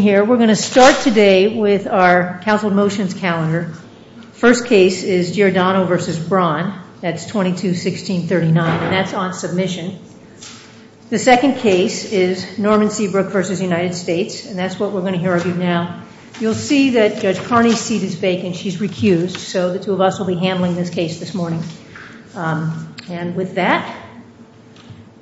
The second case is Norman Seabrook v. United States, and that's what we're going to hear of you now. You'll see that Judge Carney's seat is vacant. She's recused, so the two of us will be handling this case this morning. And with that,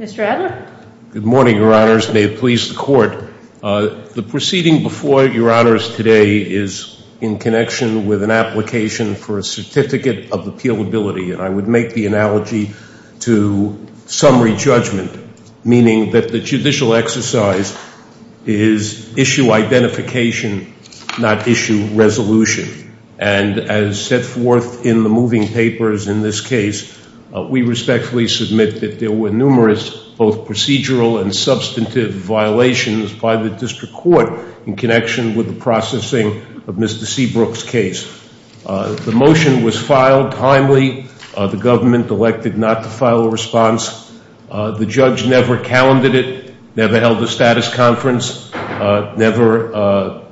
Mr. Adler? May it please the Court. The proceeding before Your Honors today is in connection with an application for a certificate of appealability. And I would make the analogy to summary judgment, meaning that the judicial exercise is issue identification, not issue resolution. And as set forth in the moving papers in this case, we respectfully submit that there were numerous, both procedural and substantive violations by the district court in connection with the processing of Mr. Seabrook's case. The motion was filed timely. The government elected not to file a response. The judge never calendared it, never held a status conference, never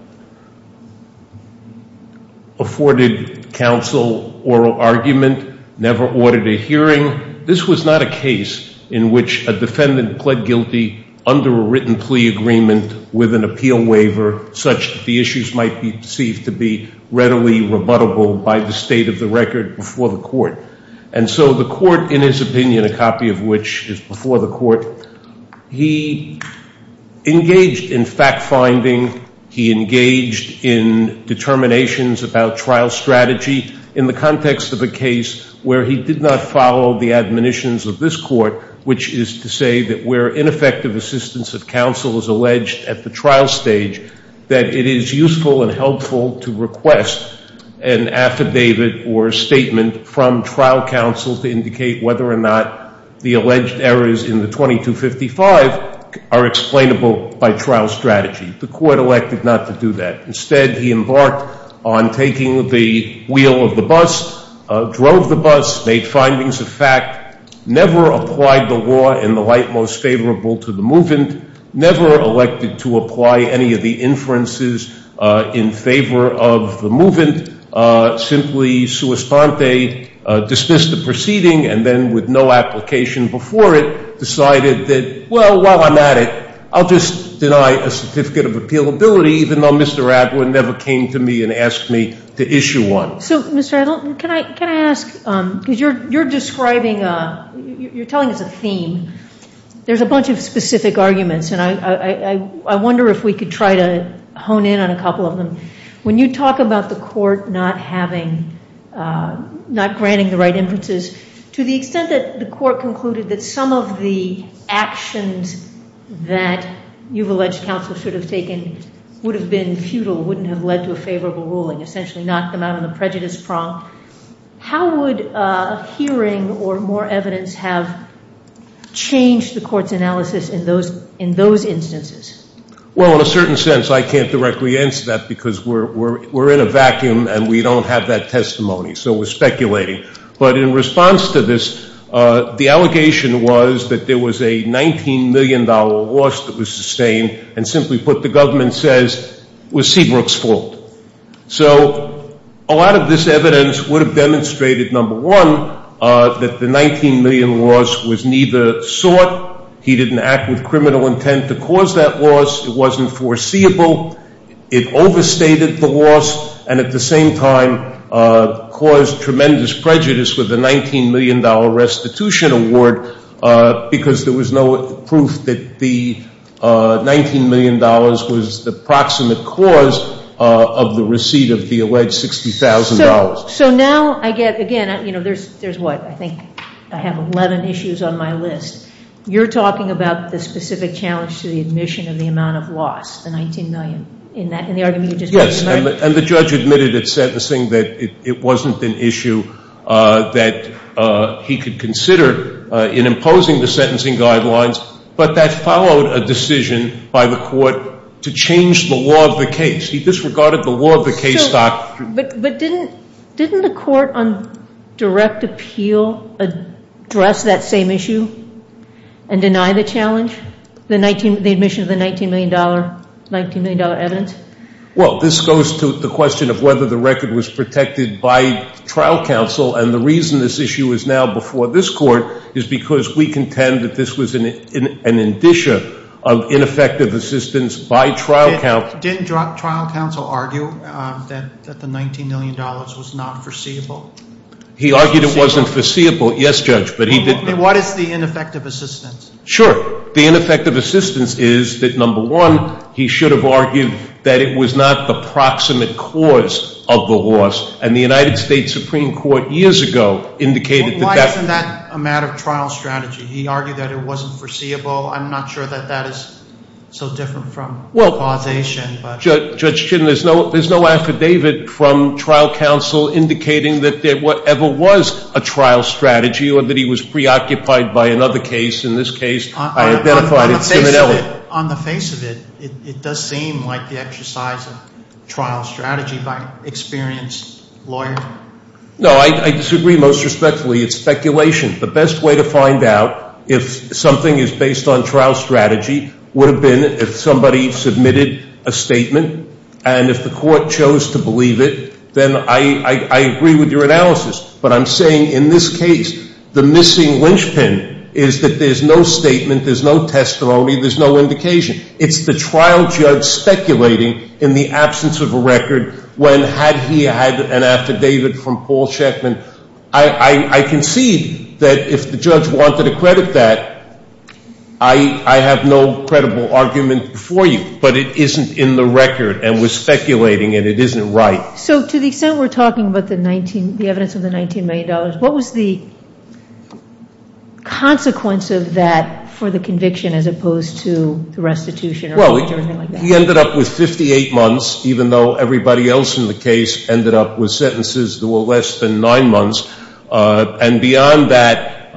afforded counsel oral argument, never ordered a hearing. This was not a case in which a defendant pled guilty under a written plea agreement with an appeal waiver, such that the issues might be perceived to be readily rebuttable by the state of the record before the court. And so the court, in his opinion, a copy of which is before the court, he engaged in fact-finding. He engaged in determinations about trial strategy in the context of a case where he did not follow the admonitions of this court, which is to say that where ineffective assistance of counsel is alleged at the trial stage, that it is useful and helpful to request an affidavit or statement from trial counsel to indicate whether or not the alleged errors in the 2255 are explainable by trial strategy. The court elected not to do that. Instead, he embarked on taking the wheel of the bus, drove the bus, made findings of fact, never applied the law in the light most favorable to the movement, never elected to apply any of the inferences in favor of the movement. Simply, sua sponte, dismissed the proceeding, and then with no application before it, decided that, well, while I'm at it, I'll just deny a certificate of appealability, even though Mr. Adler never came to me and asked me to issue one. So, Mr. Adler, can I ask, because you're describing, you're telling us a theme. There's a bunch of specific arguments, and I wonder if we could try to hone in on a couple of them. When you talk about the court not having, not granting the right inferences, to the extent that the court concluded that some of the actions that you've alleged counsel should have taken would have been futile, wouldn't have led to a favorable ruling, essentially knocked them out on the prejudice prong. How would hearing or more evidence have changed the court's analysis in those instances? Well, in a certain sense, I can't directly answer that because we're in a vacuum and we don't have that testimony, so we're speculating. But in response to this, the allegation was that there was a $19 million loss that was sustained. And simply put, the government says, it was Seabrook's fault. So, a lot of this evidence would have demonstrated, number one, that the $19 million loss was neither sought. He didn't act with criminal intent to cause that loss. It wasn't foreseeable. It overstated the loss and at the same time caused tremendous prejudice with the $19 million restitution award. Because there was no proof that the $19 million was the proximate cause of the receipt of the alleged $60,000. So now I get, again, there's what, I think I have 11 issues on my list. You're talking about the specific challenge to the admission of the amount of loss, the $19 million. In the argument you just made. Yes, and the judge admitted at sentencing that it wasn't an issue that he could consider in imposing the sentencing guidelines. But that followed a decision by the court to change the law of the case. He disregarded the law of the case doctrine. But didn't the court on direct appeal address that same issue and deny the challenge, the admission of the $19 million evidence? Well, this goes to the question of whether the record was protected by trial counsel. And the reason this issue is now before this court is because we contend that this was an indicia of ineffective assistance by trial counsel. Didn't trial counsel argue that the $19 million was not foreseeable? He argued it wasn't foreseeable, yes, Judge, but he didn't- What is the ineffective assistance? Sure. The ineffective assistance is that number one, he should have argued that it was not the proximate cause of the loss. And the United States Supreme Court years ago indicated that- Why isn't that a matter of trial strategy? He argued that it wasn't foreseeable. I'm not sure that that is so different from causation, but- Judge Chin, there's no affidavit from trial counsel indicating that there ever was a trial strategy or that he was preoccupied by another case, in this case, I identified it similarly. On the face of it, it does seem like the exercise of trial strategy by experienced lawyer. No, I disagree most respectfully. It's speculation. The best way to find out if something is based on trial strategy would have been if somebody submitted a statement. And if the court chose to believe it, then I agree with your analysis. But I'm saying in this case, the missing linchpin is that there's no statement, there's no testimony, there's no indication. It's the trial judge speculating in the absence of a record when had he had an affidavit from Paul Sheckman. I concede that if the judge wanted to credit that, I have no credible argument for you. But it isn't in the record, and we're speculating, and it isn't right. So to the extent we're talking about the evidence of the $19 million, what was the consequence of that for the conviction as opposed to the restitution or anything like that? He ended up with 58 months, even though everybody else in the case ended up with sentences that were less than nine months. And beyond that,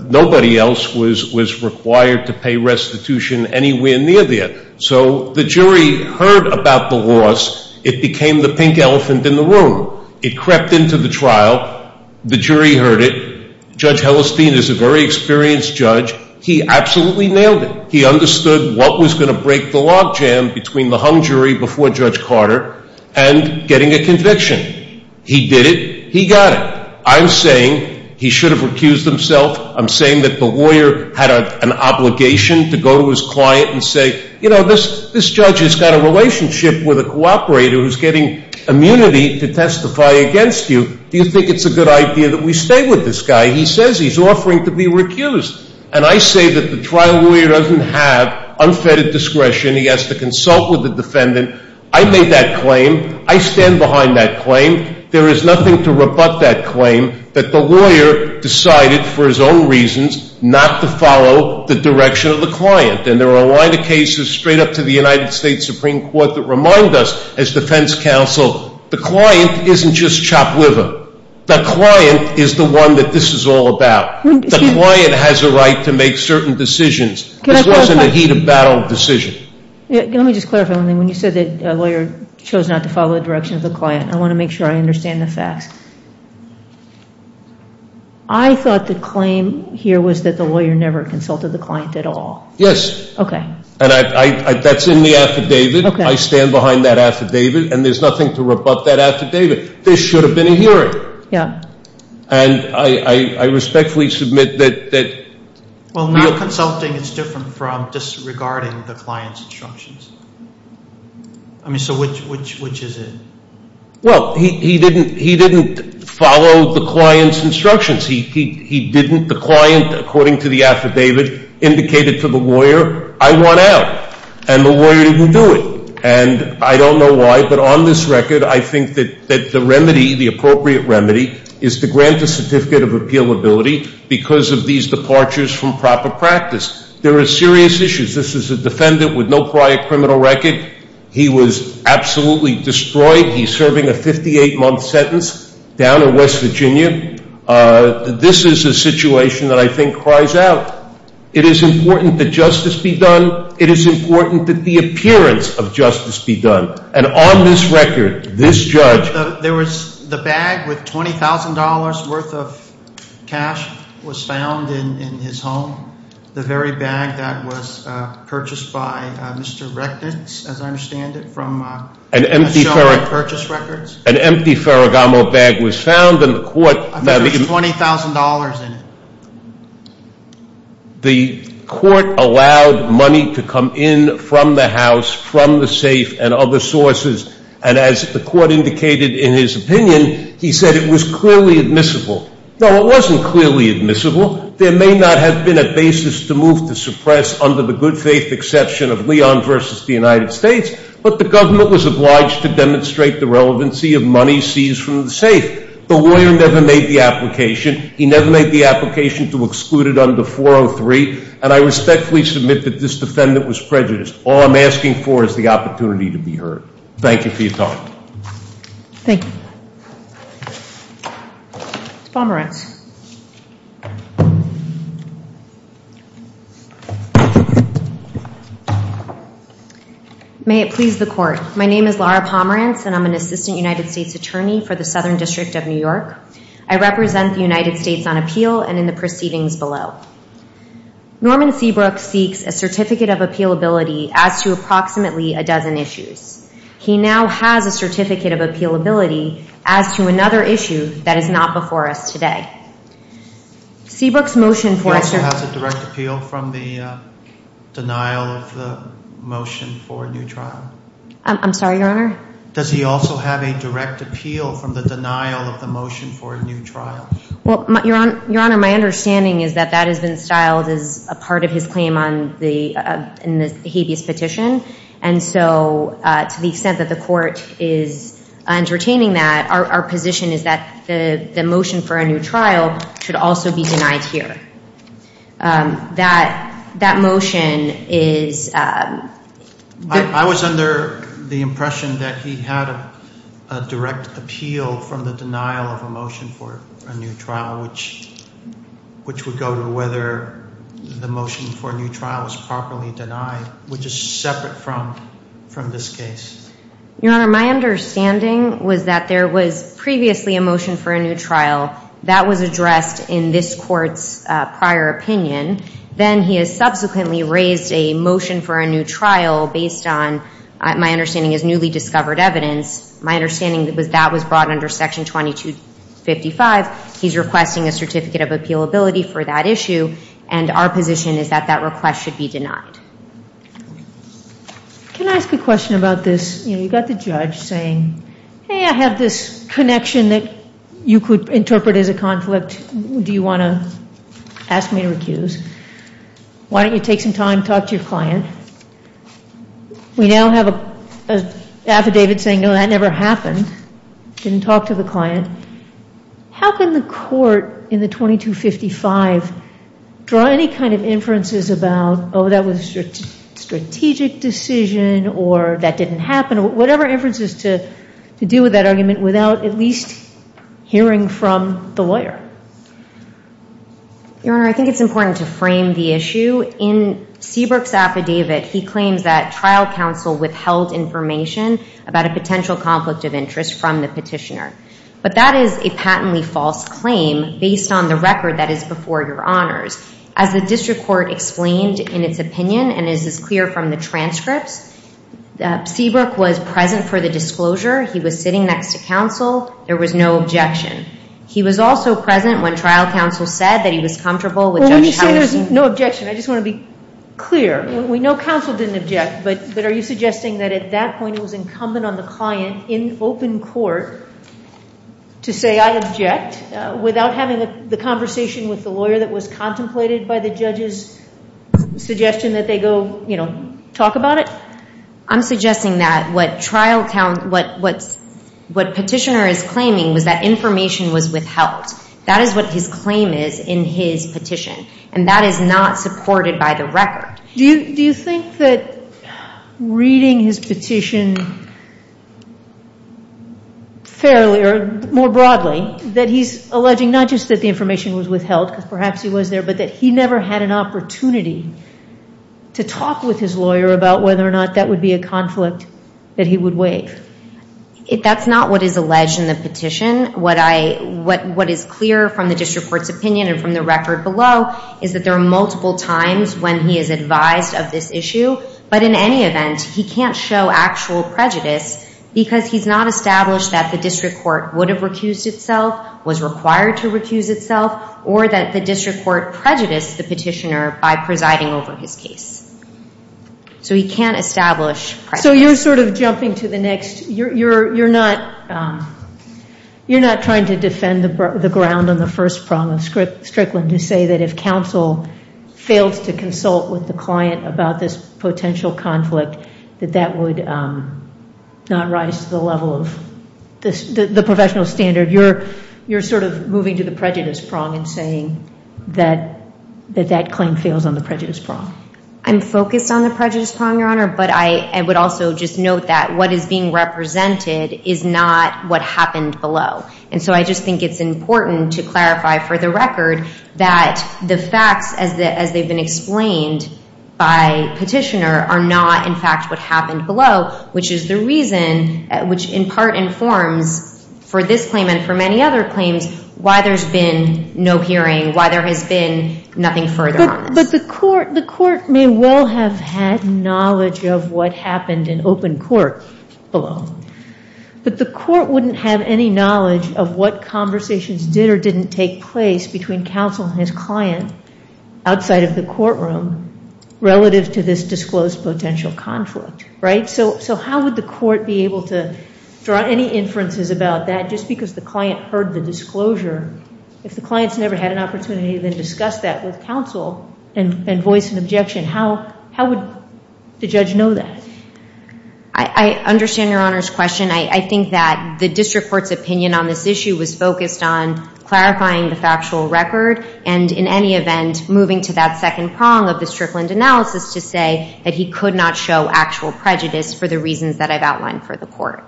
nobody else was required to pay restitution anywhere near there. So the jury heard about the loss. It became the pink elephant in the room. It crept into the trial. The jury heard it. Judge Hellestein is a very experienced judge. He absolutely nailed it. He understood what was going to break the log jam between the hung jury before Judge Carter and getting a conviction. He did it. He got it. I'm saying he should have recused himself. I'm saying that the lawyer had an obligation to go to his client and say, this judge has got a relationship with a cooperator who's getting immunity to testify against you. Do you think it's a good idea that we stay with this guy? He says he's offering to be recused. And I say that the trial lawyer doesn't have unfettered discretion. He has to consult with the defendant. I made that claim. I stand behind that claim. There is nothing to rebut that claim that the lawyer decided for his own reasons not to follow the direction of the client. And there are a line of cases straight up to the United States Supreme Court that remind us, as defense counsel, the client isn't just chop liver. The client is the one that this is all about. The client has a right to make certain decisions. This wasn't a heat of battle decision. Let me just clarify one thing. When you said that a lawyer chose not to follow the direction of the client, I want to make sure I understand the facts. I thought the claim here was that the lawyer never consulted the client at all. Yes. Okay. And that's in the affidavit. I stand behind that affidavit. And there's nothing to rebut that affidavit. This should have been a hearing. Yeah. And I respectfully submit that- Well, not consulting is different from disregarding the client's instructions. I mean, so which is it? Well, he didn't follow the client's instructions. He didn't, the client, according to the affidavit, indicated to the lawyer, I want out. And the lawyer didn't do it. And I don't know why, but on this record, I think that the remedy, the appropriate remedy, is to grant a certificate of appealability because of these departures from proper practice. There are serious issues. This is a defendant with no prior criminal record. He was absolutely destroyed. He's serving a 58-month sentence down in West Virginia. This is a situation that I think cries out. It is important that justice be done. It is important that the appearance of justice be done. And on this record, this judge- There was the bag with $20,000 worth of cash was found in his home. The very bag that was purchased by Mr. Reknitz, as I understand it, from a show of purchase records. An empty Ferragamo bag was found in the court- I think it was $20,000 in it. The court allowed money to come in from the house, from the safe, and other sources. And as the court indicated in his opinion, he said it was clearly admissible. Now, it wasn't clearly admissible. There may not have been a basis to move to suppress under the good faith exception of Leon versus the United States. But the government was obliged to demonstrate the relevancy of money seized from the safe. The lawyer never made the application. He never made the application to exclude it under 403. And I respectfully submit that this defendant was prejudiced. All I'm asking for is the opportunity to be heard. Thank you for your time. Thank you. It's Pomerantz. May it please the court. My name is Laura Pomerantz, and I'm an assistant United States attorney for the Southern District of New York. I represent the United States on appeal and in the proceedings below. Norman Seabrook seeks a certificate of appealability as to approximately a dozen issues. He now has a certificate of appealability as to another issue that is not before us today. Seabrook's motion for- He also has a direct appeal from the denial of the motion for a new trial? I'm sorry, your honor? Does he also have a direct appeal from the denial of the motion for a new trial? Well, your honor, my understanding is that that has been styled as a part of his claim on the habeas petition. And so, to the extent that the court is entertaining that, our position is that the motion for a new trial should also be denied here. That motion is- I was under the impression that he had a direct appeal from the denial of a motion for a new trial, which would go to whether the motion for a new trial is properly denied, which is separate from this case. Your honor, my understanding was that there was previously a motion for a new trial that was addressed in this court's prior opinion. Then he has subsequently raised a motion for a new trial based on, my understanding, his newly discovered evidence. My understanding was that was brought under section 2255. He's requesting a certificate of appealability for that issue, and our position is that that request should be denied. Can I ask a question about this? You've got the judge saying, hey, I have this connection that you could interpret as a conflict. Do you want to ask me to recuse? Why don't you take some time to talk to your client? We now have an affidavit saying, no, that never happened. Didn't talk to the client. How can the court in the 2255 draw any kind of inferences about, that was a strategic decision, or that didn't happen, or whatever inferences to deal with that argument without at least hearing from the lawyer? Your Honor, I think it's important to frame the issue. In Seabrook's affidavit, he claims that trial counsel withheld information about a potential conflict of interest from the petitioner. But that is a patently false claim based on the record that is before your honors. As the district court explained in its opinion, and as is clear from the transcripts, Seabrook was present for the disclosure, he was sitting next to counsel, there was no objection. He was also present when trial counsel said that he was comfortable with Judge Hyerson. When you say there's no objection, I just want to be clear. We know counsel didn't object, but are you suggesting that at that point it was incumbent on the client in open court to say I object without having the conversation with the lawyer that was contemplated by the judge's suggestion that they go talk about it? I'm suggesting that what petitioner is claiming was that information was withheld. That is what his claim is in his petition. And that is not supported by the record. Do you think that reading his petition fairly, or more broadly, that he's alleging not just that the information was withheld, because perhaps he was there, but that he never had an opportunity to talk with his lawyer about whether or not that would be a conflict that he would waive? That's not what is alleged in the petition. What is clear from the district court's opinion and from the record below is that there are multiple times when he is advised of this issue. But in any event, he can't show actual prejudice because he's not established that the district court would have recused itself, was required to recuse itself, or that the district court prejudiced the petitioner by presiding over his case. So he can't establish prejudice. So you're sort of jumping to the next. You're not trying to defend the ground on the first prong of Strickland to say that if counsel fails to consult with the client about this potential conflict, that that would not rise to the level of the professional standard. You're sort of moving to the prejudice prong and saying that that claim fails on the prejudice prong. I'm focused on the prejudice prong, Your Honor. But I would also just note that what is being represented is not what happened below. And so I just think it's important to clarify for the record that the facts as they've been explained by petitioner are not in fact what happened below, which is the reason, which in part informs for this claim and for many other claims why there's been no hearing, why there has been nothing further on this. But the court may well have had knowledge of what happened in open court below. But the court wouldn't have any knowledge of what conversations did or didn't take place between counsel and his client outside of the courtroom relative to this disclosed potential conflict, right? So how would the court be able to draw any inferences about that just because the client heard the disclosure? If the client's never had an opportunity to discuss that with counsel and voice an objection, how would the judge know that? I understand Your Honor's question. I think that the district court's opinion on this issue was focused on clarifying the factual record and in any event, moving to that second prong of the Strickland analysis to say that he could not show actual prejudice for the reasons that I've outlined for the court.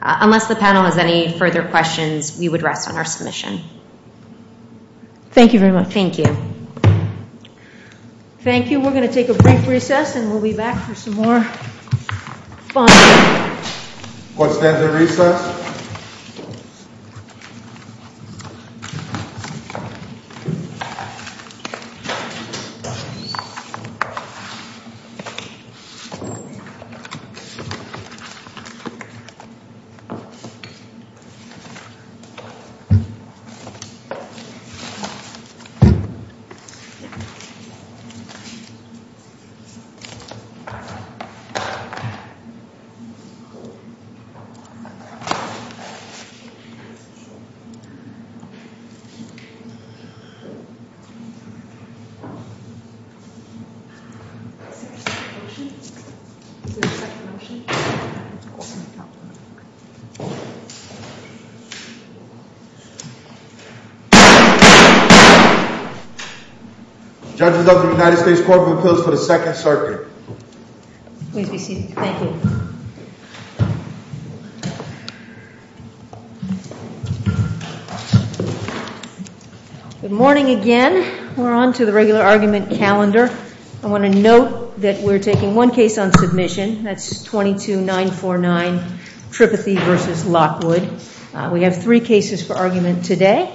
Unless the panel has any further questions, we would rest on our submission. Thank you very much. Thank you. Thank you. We're going to take a brief recess and we'll be back for some more fun. Court stands at recess. Judges of the United States Court of Appeals for the Second Circuit. Please be seated. Thank you. Good morning again. We're on to the regular argument calendar. I want to note that we're taking one case on submission. That's 22-949, Tripathy v. Lockwood. We have three cases for argument today.